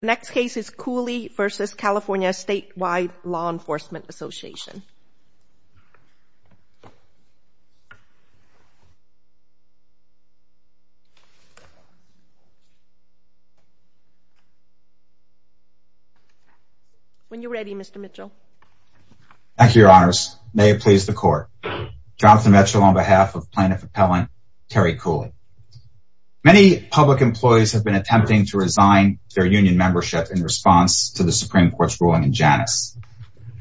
Next case is Cooley v. CA Statewide Law Enforcement Association. When you're ready, Mr. Mitchell. Thank you, Your Honors. May it please the Court. Jonathan Mitchell on behalf of Plaintiff Appellant Terry Cooley. Many public employees have been attempting to resign their union membership in response to the Supreme Court's ruling in Janus.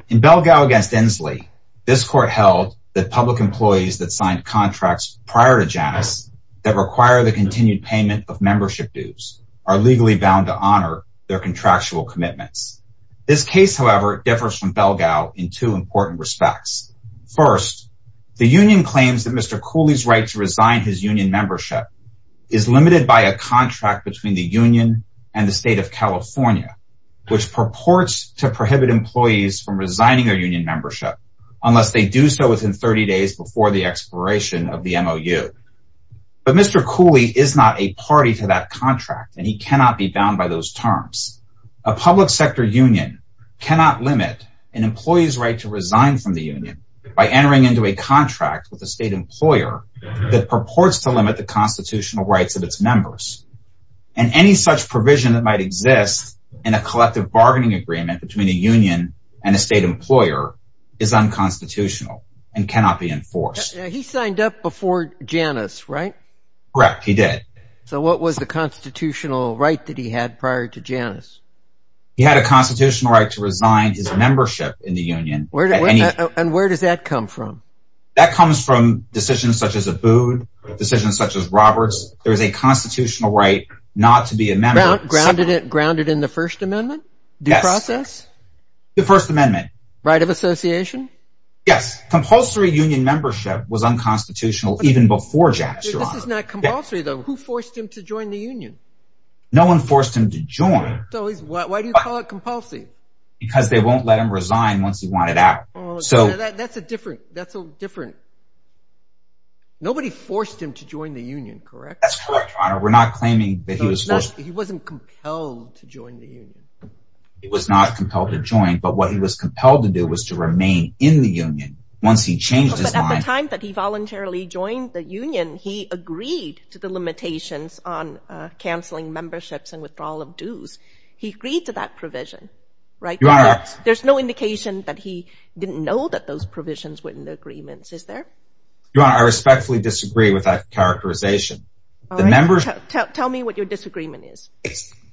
In Belgao v. Inslee, this Court held that public employees that signed contracts prior to Janus that require the continued payment of membership dues are legally bound to honor their contractual commitments. This case, however, differs from Belgao in two important respects. First, the union claims that Mr. Cooley's right to resign his union membership is limited by a contract between the union and the State of California, which purports to prohibit employees from resigning their union membership unless they do so within 30 days before the expiration of the MOU. But Mr. Cooley is not a party to that contract, and he cannot be bound by those terms. A public sector union cannot limit an employee's right to resign from the union by entering into a contract with a state employer that purports to limit the constitutional rights of its members. And any such provision that might exist in a collective bargaining agreement between a union and a state employer is unconstitutional and cannot be enforced. He signed up before Janus, right? Correct, he did. So what was the constitutional right that he had prior to Janus? He had a constitutional right to resign his membership in the union. And where does that come from? That comes from decisions such as Abood, decisions such as Roberts. There is a constitutional right not to be a member. Grounded in the First Amendment? Yes. Due process? The First Amendment. Yes. Compulsory union membership was unconstitutional even before Janus, Your Honor. Janus is not compulsory, though. Who forced him to join the union? No one forced him to join. So why do you call it compulsory? Because they won't let him resign once he wanted out. That's a different – that's a different – nobody forced him to join the union, correct? That's correct, Your Honor. We're not claiming that he was forced. He wasn't compelled to join the union. He was not compelled to join, but what he was compelled to do was to remain in the union once he changed his mind. At the time that he voluntarily joined the union, he agreed to the limitations on canceling memberships and withdrawal of dues. He agreed to that provision, right? Your Honor. There's no indication that he didn't know that those provisions were in the agreements, is there? Your Honor, I respectfully disagree with that characterization. All right. Tell me what your disagreement is.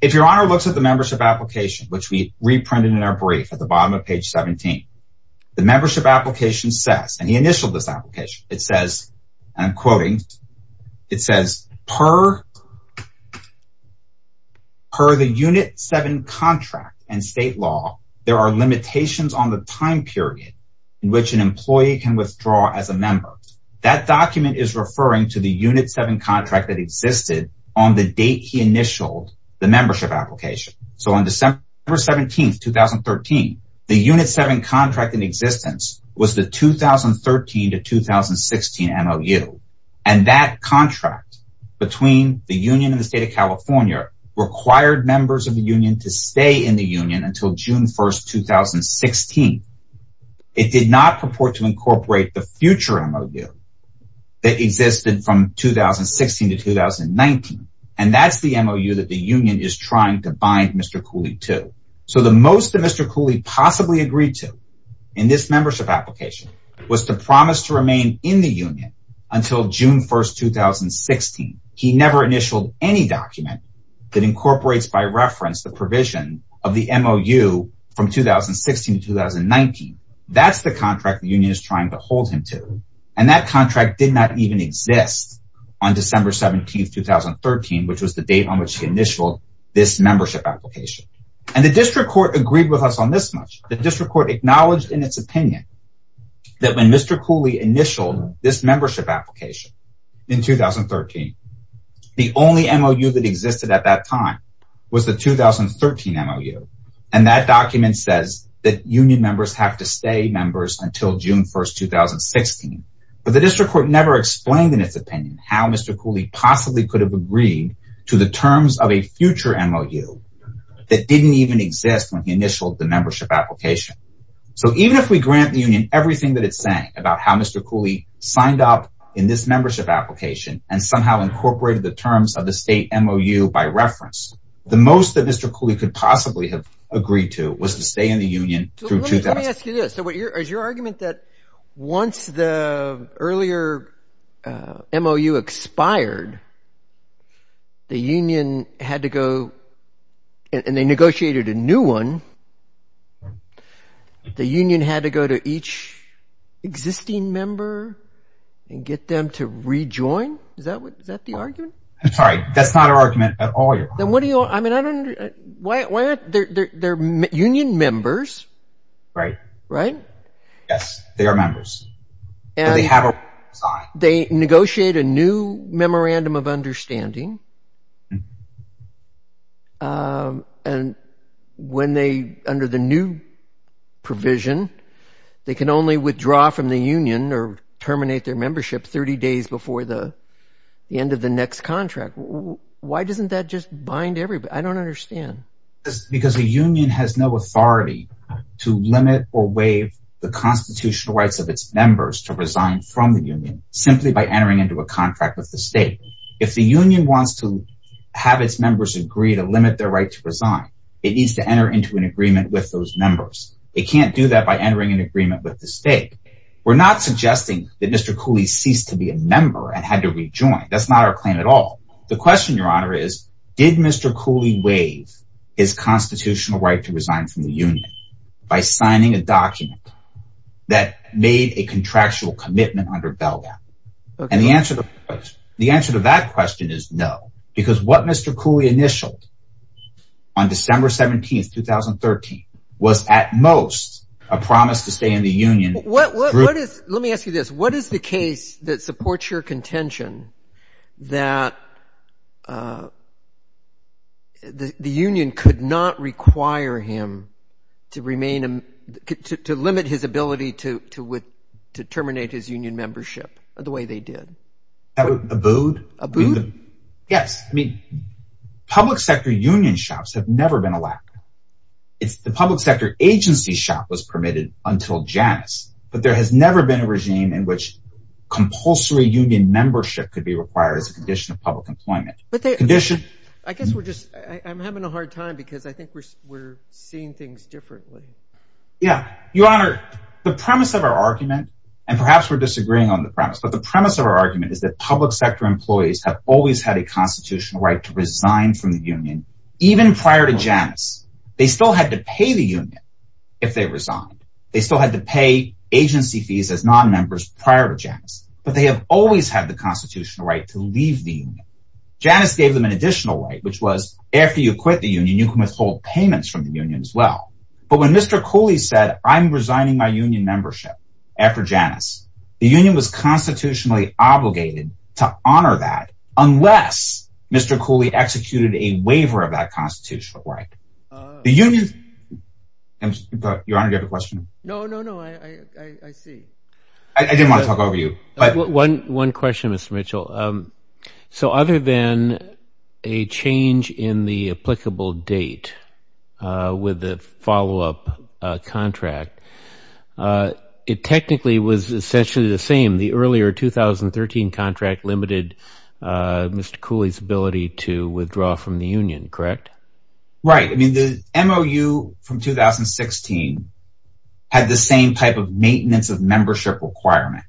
If Your Honor looks at the membership application, which we reprinted in our brief at the bottom of page 17, the membership application says – and he initialed this application – it says, and I'm quoting, it says, per the Unit 7 contract and state law, there are limitations on the time period in which an employee can withdraw as a member. That document is referring to the Unit 7 contract that existed on the date he initialed the membership application. So on December 17, 2013, the Unit 7 contract in existence was the 2013 to 2016 MOU, and that contract between the union and the state of California required members of the union to stay in the union until June 1, 2016. It did not purport to incorporate the future MOU that existed from 2016 to 2019, and that's the MOU that the union is trying to bind Mr. Cooley to. So the most that Mr. Cooley possibly agreed to in this membership application was to promise to remain in the union until June 1, 2016. He never initialed any document that incorporates by reference the provision of the MOU from 2016 to 2019. That's the contract the union is trying to hold him to, and that contract did not even exist on December 17, 2013, which was the date on which he initialed this membership application. And the district court agreed with us on this much. The district court acknowledged in its opinion that when Mr. Cooley initialed this membership application in 2013, the only MOU that existed at that time was the 2013 MOU, and that document says that union members have to stay members until June 1, 2016. But the district court never explained in its opinion how Mr. Cooley possibly could have agreed to the terms of a future MOU that didn't even exist when he initialed the membership application. So even if we grant the union everything that it's saying about how Mr. Cooley signed up in this membership application and somehow incorporated the terms of the state MOU by reference, the most that Mr. Cooley could possibly have agreed to was to stay in the union through 2016. So let me ask you this. So is your argument that once the earlier MOU expired, the union had to go and they negotiated a new one, the union had to go to each existing member and get them to rejoin? Is that the argument? I'm sorry. That's not our argument at all. They're union members. Right. Right? Yes, they are members. They negotiate a new memorandum of understanding, and when they, under the new provision, they can only withdraw from the union or terminate their membership 30 days before the end of the next contract. Why doesn't that just bind everybody? I don't understand. Because the union has no authority to limit or waive the constitutional rights of its members to resign from the union simply by entering into a contract with the state. If the union wants to have its members agree to limit their right to resign, it needs to enter into an agreement with those members. It can't do that by entering an agreement with the state. We're not suggesting that Mr. Cooley ceased to be a member and had to rejoin. That's not our claim at all. The question, Your Honor, is did Mr. Cooley waive his constitutional right to resign from the union by signing a document that made a contractual commitment under BELGAP? And the answer to that question is no, because what Mr. Cooley initialed on December 17, 2013, was at most a promise to stay in the union. Let me ask you this. What is the case that supports your contention that the union could not require him to remain to limit his ability to terminate his union membership the way they did? Abood. Abood? Yes. I mean, public sector union shops have never been allowed. The public sector agency shop was permitted until Janus, but there has never been a regime in which compulsory union membership could be required as a condition of public employment. I guess we're just, I'm having a hard time because I think we're seeing things differently. Yeah. Your Honor, the premise of our argument, and perhaps we're disagreeing on the premise, but the premise of our argument is that public sector employees have always had a constitutional right to resign from the union, even prior to Janus. They still had to pay the union if they resigned. They still had to pay agency fees as non-members prior to Janus, but they have always had the constitutional right to leave the union. Janus gave them an additional right, which was after you quit the union, you can withhold payments from the union as well. But when Mr. Cooley said, I'm resigning my union membership after Janus, the union was constitutionally obligated to honor that unless Mr. Cooley executed a waiver of that constitutional right. The union... Your Honor, do you have a question? No, no, no. I see. I didn't want to talk over you. One question, Mr. Mitchell. So other than a change in the applicable date with the follow-up contract, it technically was essentially the same. The earlier 2013 contract limited Mr. Cooley's ability to withdraw from the union, correct? Right. The MOU from 2016 had the same type of maintenance of membership requirement.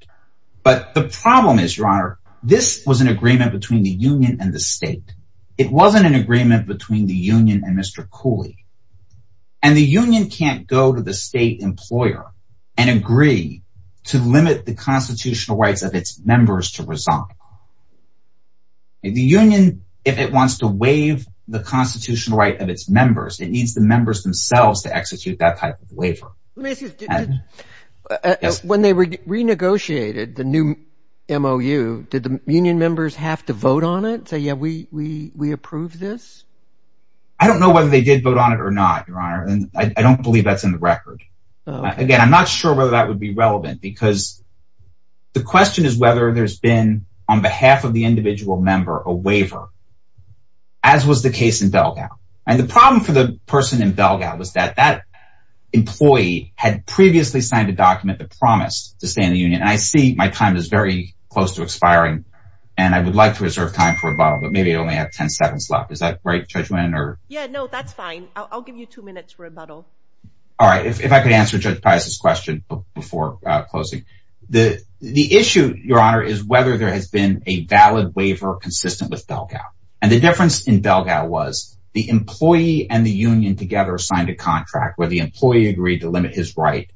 But the problem is, Your Honor, this was an agreement between the union and the state. It wasn't an agreement between the union and Mr. Cooley. And the union can't go to the state employer and agree to limit the constitutional rights of its members to resign. The union, if it wants to waive the constitutional right of its members, it needs the members themselves to execute that type of waiver. When they renegotiated the new MOU, did the union members have to vote on it, say, yeah, we approve this? I don't know whether they did vote on it or not, Your Honor, and I don't believe that's in the record. Again, I'm not sure whether that would be relevant because the question is whether there's been, on behalf of the individual member, a waiver, as was the case in Belgau. And the problem for the person in Belgau was that that employee had previously signed a document that promised to stay in the union. And I see my time is very close to expiring, and I would like to reserve time for rebuttal, but maybe I only have 10 seconds left. Is that right, Judge Winn? Yeah, no, that's fine. I'll give you two minutes for rebuttal. All right. If I could answer Judge Pius's question before closing. The issue, Your Honor, is whether there has been a valid waiver consistent with Belgau. And the difference in Belgau was the employee and the union together signed a contract where the employee agreed to limit his right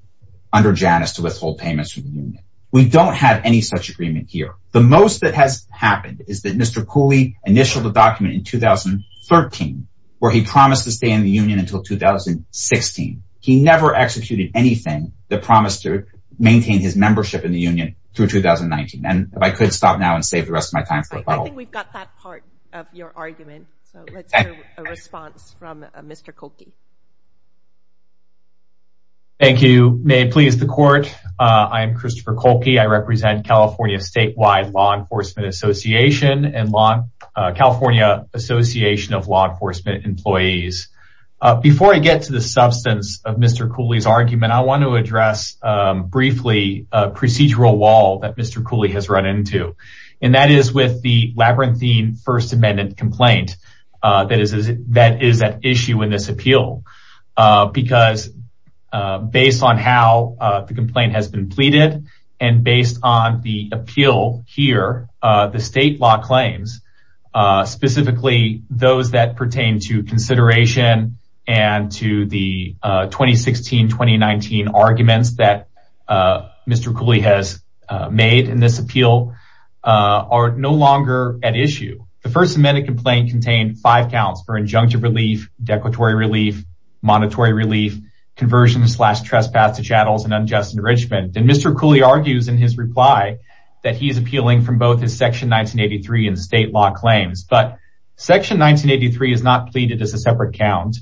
under Janus to withhold payments from the union. We don't have any such agreement here. The most that has happened is that Mr. Cooley initialed the document in 2013 where he promised to stay in the union until 2016. He never executed anything that promised to maintain his membership in the union through 2019. And if I could stop now and save the rest of my time for rebuttal. I think we've got that part of your argument, so let's hear a response from Mr. Cooley. Thank you. May it please the Court, I am Christopher Cooley. I represent California Statewide Law Enforcement Association and California Association of Law Enforcement Employees. Before I get to the substance of Mr. Cooley's argument, I want to address briefly a procedural wall that Mr. Cooley has run into. And that is with the Labyrinthine First Amendment complaint that is at issue in this appeal. Because based on how the complaint has been pleaded and based on the appeal here, the state law claims, specifically those that pertain to consideration and to the 2016-2019 arguments that Mr. Cooley has made in this appeal, are no longer at issue. The First Amendment complaint contained five counts for injunctive relief, declaratory relief, monetary relief, conversion slash trespass to chattels and unjust enrichment. And Mr. Cooley argues in his reply that he is appealing from both his Section 1983 and state law claims. But Section 1983 is not pleaded as a separate count.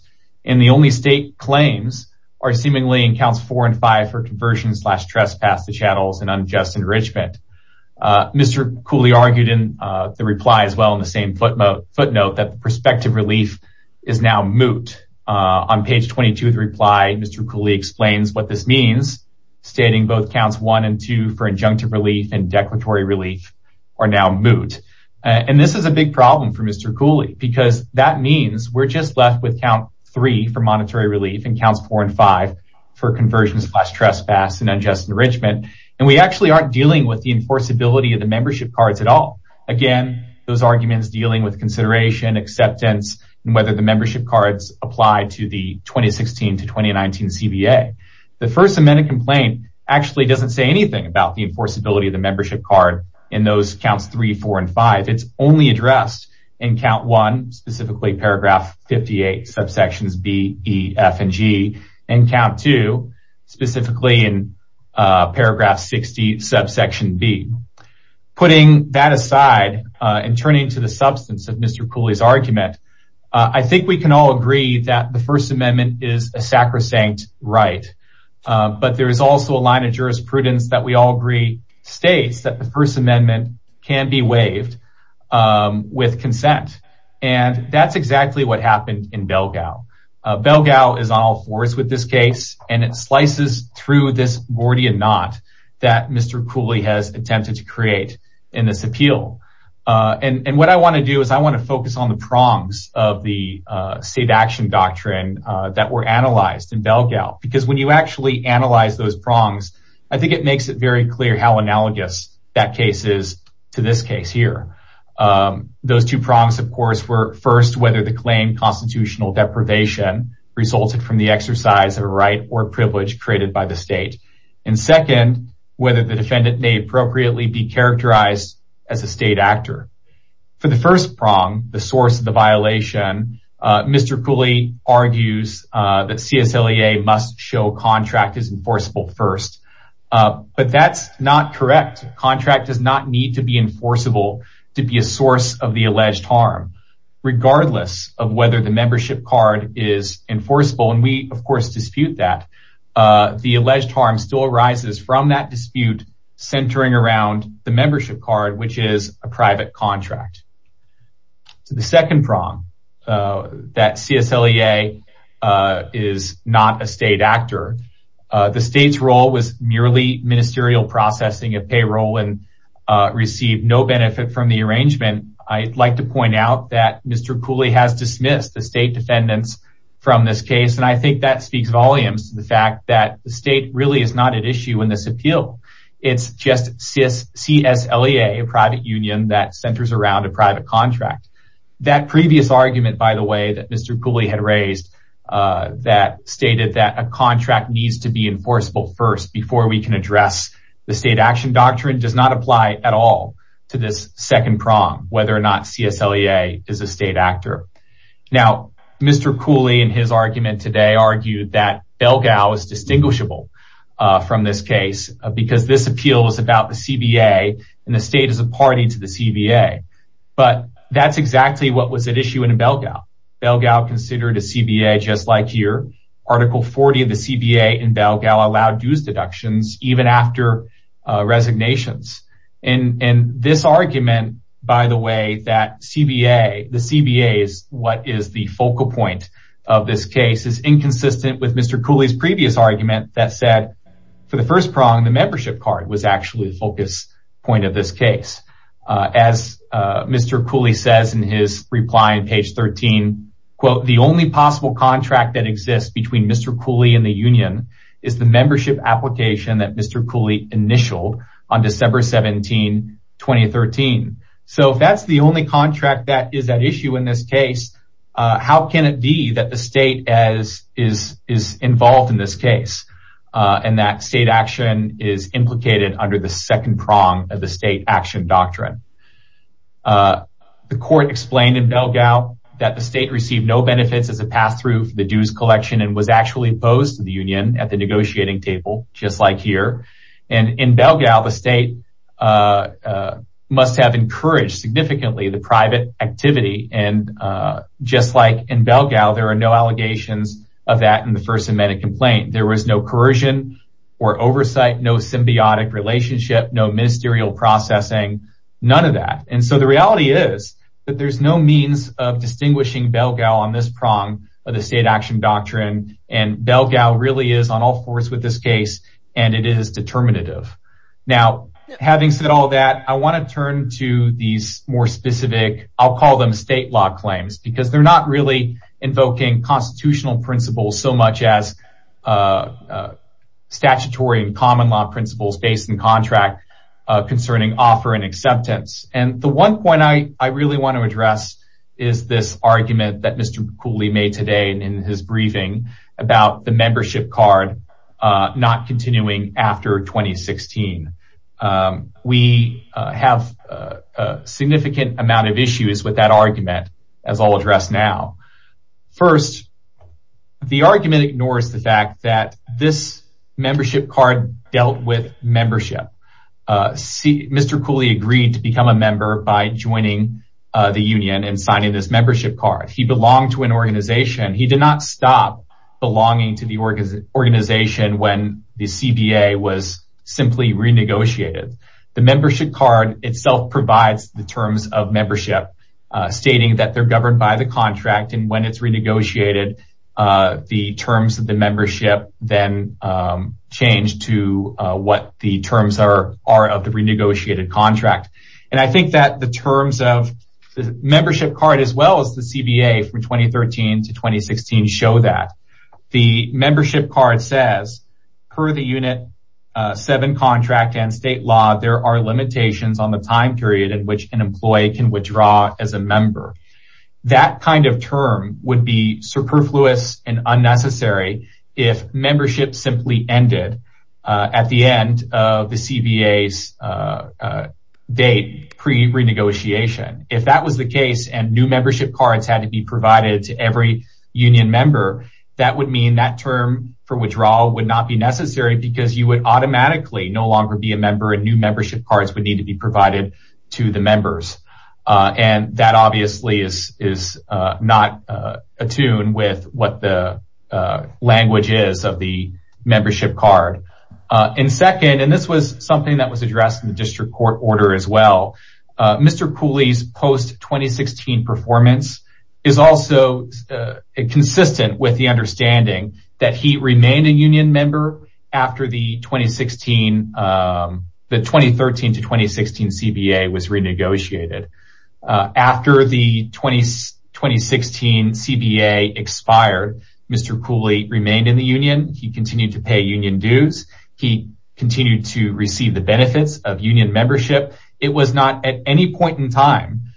And the only state claims are seemingly in Counts 4 and 5 for conversion slash trespass to chattels and unjust enrichment. Mr. Cooley argued in the reply as well in the same footnote that the prospective relief is now moot. On page 22 of the reply, Mr. Cooley explains what this means, stating both Counts 1 and 2 for injunctive relief and declaratory relief are now moot. And this is a big problem for Mr. Cooley because that means we're just left with Count 3 for monetary relief and Counts 4 and 5 for conversion slash trespass and unjust enrichment. And we actually aren't dealing with the enforceability of the membership cards at all. Again, those arguments dealing with consideration, acceptance, and whether the membership cards apply to the 2016 to 2019 CBA. The First Amendment complaint actually doesn't say anything about the enforceability of the membership card in those Counts 3, 4, and 5. It's only addressed in Count 1, specifically Paragraph 58, subsections B, E, F, and G, and Count 2, specifically in Paragraph 60, subsection B. Putting that aside and turning to the substance of Mr. Cooley's argument, I think we can all agree that the First Amendment is a sacrosanct right. But there is also a line of jurisprudence that we all agree states that the First Amendment can be waived with consent. And that's exactly what happened in Belgao. Belgao is on all fours with this case, and it slices through this Gordian Knot that Mr. Cooley has attempted to create in this appeal. And what I want to do is I want to focus on the prongs of the state action doctrine that were analyzed in Belgao. Because when you actually analyze those prongs, I think it makes it very clear how analogous that case is to this case here. Those two prongs, of course, were first, whether the claim constitutional deprivation resulted from the exercise of a right or privilege created by the state. And second, whether the defendant may appropriately be characterized as a state actor. For the first prong, the source of the violation, Mr. Cooley argues that CSLEA must show contract as enforceable first. But that's not correct. Contract does not need to be enforceable to be a source of the alleged harm, regardless of whether the membership card is enforceable. And we, of course, dispute that. The alleged harm still arises from that dispute centering around the membership card, which is a private contract. The second prong, that CSLEA is not a state actor. The state's role was merely ministerial processing of payroll and received no benefit from the arrangement. I'd like to point out that Mr. Cooley has dismissed the state defendants from this case. And I think that speaks volumes to the fact that the state really is not at issue in this appeal. It's just CSLEA, a private union that centers around a private contract. That previous argument, by the way, that Mr. Cooley had raised, that stated that a contract needs to be enforceable first before we can address the state action doctrine, does not apply at all to this second prong, whether or not CSLEA is a state actor. Now, Mr. Cooley, in his argument today, argued that Belgao is distinguishable from this case because this appeal is about the CBA and the state is a party to the CBA. But that's exactly what was at issue in Belgao. Belgao considered a CBA, just like here. Article 40 of the CBA in Belgao allowed dues deductions even after resignations. And this argument, by the way, that the CBA is what is the focal point of this case, is inconsistent with Mr. Cooley's previous argument that said, for the first prong, the membership card was actually the focus point of this case. As Mr. Cooley says in his reply on page 13, quote, the only possible contract that exists between Mr. Cooley and the union is the membership application that Mr. Cooley initialed on December 17, 2013. So if that's the only contract that is at issue in this case, how can it be that the state is involved in this case and that state action is implicated under the second prong of the state action doctrine? The court explained in Belgao that the state received no benefits as a pass-through for the dues collection and was actually opposed to the union at the negotiating table, just like here. And in Belgao, the state must have encouraged significantly the private activity. And just like in Belgao, there are no allegations of that in the first amendment complaint. There was no coercion or oversight, no symbiotic relationship, no ministerial processing, none of that. And so the reality is that there's no means of distinguishing Belgao on this prong of the state action doctrine. And Belgao really is on all fours with this case. And it is determinative. Now, having said all that, I want to turn to these more specific, I'll call them state law claims, because they're not really invoking constitutional principles so much as statutory and common law principles based in contract concerning offer and acceptance. And the one point I really want to address is this argument that Mr. Cooley made today in his briefing about the membership card not continuing after 2016. We have a significant amount of issues with that argument, as I'll address now. First, the argument ignores the fact that this membership card dealt with membership. Mr. Cooley agreed to become a member by joining the union and signing this membership card. He belonged to an organization. He did not stop belonging to the organization when the CBA was simply renegotiated. The membership card itself provides the terms of membership, stating that they're governed by the contract. And when it's renegotiated, the terms of the membership then change to what the terms are of the renegotiated contract. And I think that the terms of the membership card as well as the CBA from 2013 to 2016 show that. The membership card says per the Unit 7 contract and state law, there are limitations on the time period in which an employee can withdraw as a member. That kind of term would be superfluous and unnecessary if membership simply ended at the end of the CBA's date pre-renegotiation. If that was the case and new membership cards had to be provided to every union member, that would mean that term for withdrawal would not be necessary because you would automatically no longer be a member and new membership cards would need to be provided to the members. And that obviously is not attuned with what the language is of the membership card. And second, and this was something that was addressed in the district court order as well, Mr. Cooley's post-2016 performance is also consistent with the understanding that he remained a union member after the 2013 to 2016 CBA was renegotiated. After the 2016 CBA expired, Mr. Cooley remained in the union, he continued to pay union dues, he continued to receive the benefits of union membership. It was not at any point in time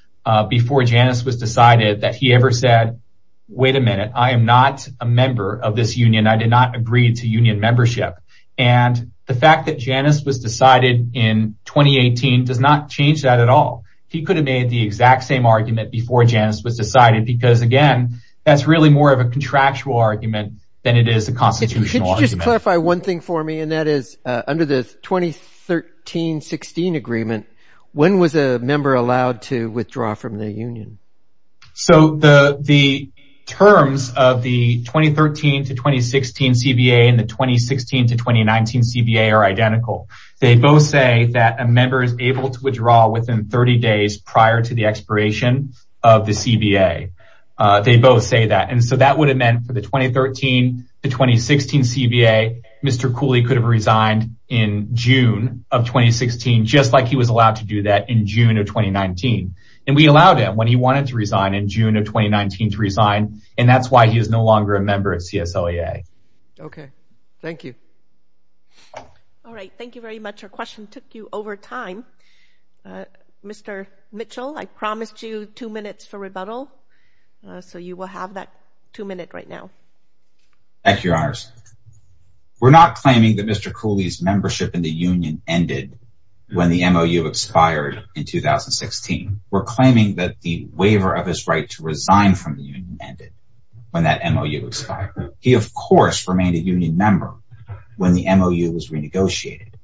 before Janus was decided that he ever said, wait a minute, I am not a member of this union, I did not agree to union membership. And the fact that Janus was decided in 2018 does not change that at all. He could have made the exact same argument before Janus was decided because again, that's really more of a contractual argument than it is a constitutional argument. Can you just clarify one thing for me and that is under the 2013-16 agreement, when was a member allowed to withdraw from the union? So the terms of the 2013-2016 CBA and the 2016-2019 CBA are identical. They both say that a member is able to withdraw within 30 days prior to the expiration of the CBA. They both say that and so that would have meant for the 2013-2016 CBA, Mr. Cooley could have resigned in June of 2016 just like he was allowed to do that in June of 2019. And we allowed him when he wanted to resign in June of 2019 to resign and that's why he is no longer a member of CSOEA. Okay, thank you. All right, thank you very much. Our question took you over time. Mr. Mitchell, I promised you two minutes for rebuttal, so you will have that two minute right now. Thank you, Your Honor. We're not claiming that Mr. Cooley's membership in the union ended when the MOU expired in 2016. We're claiming that the waiver of his right to resign from the union ended when that MOU expired. He, of course, remained a union member when the MOU was renegotiated,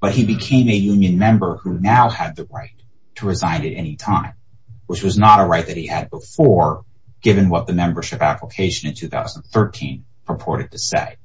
but he became a union member who now had the right to resign at any time, which was not a right that he had before given what the membership application in 2013 purported to say.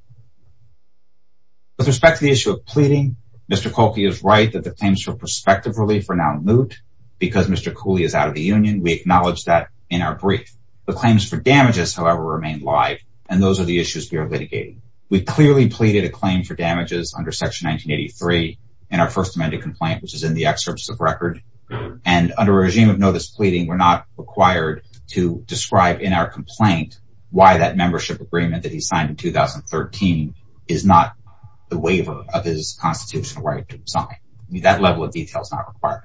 With respect to the issue of pleading, Mr. Cooley is right that the claims for prospective relief are now moot because Mr. Cooley is out of the union. We acknowledge that in our brief. The claims for damages, however, remain live and those are the issues we are litigating. We clearly pleaded a claim for damages under Section 1983 in our first amended complaint, which is in the excerpts of record. And under a regime of notice pleading, we're not required to describe in our complaint why that membership agreement that he signed in 2013 is not the waiver of his constitutional right to resign. That level of detail is not required.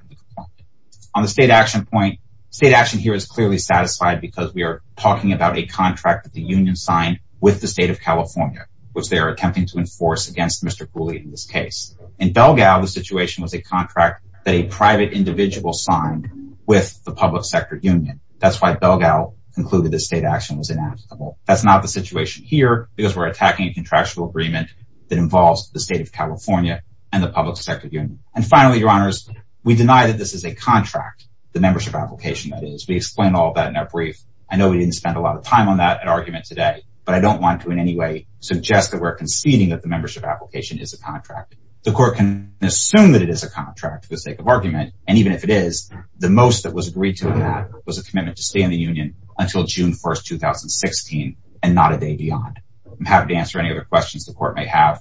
On the state action point, state action here is clearly satisfied because we are talking about a contract that the union signed with the state of California, which they are attempting to enforce against Mr. Cooley in this case. In Belgal, the situation was a contract that a private individual signed with the public sector union. That's why Belgal concluded that state action was ineligible. That's not the situation here because we're attacking a contractual agreement that involves the state of California and the public sector union. And finally, your honors, we deny that this is a contract, the membership application that is. We explain all that in our brief. I know we didn't spend a lot of time on that argument today, but I don't want to in any way suggest that we're conceding that the membership application is a contract. The court can assume that it is a contract for the sake of argument. And even if it is, the most that was agreed to was a commitment to stay in the union until June 1st, 2016 and not a day beyond. I'm happy to answer any other questions the court may have.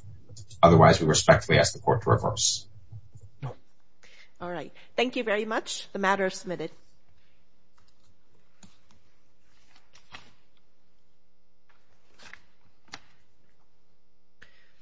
Otherwise, we respectfully ask the court to reverse. All right. Thank you very much. The matter is submitted.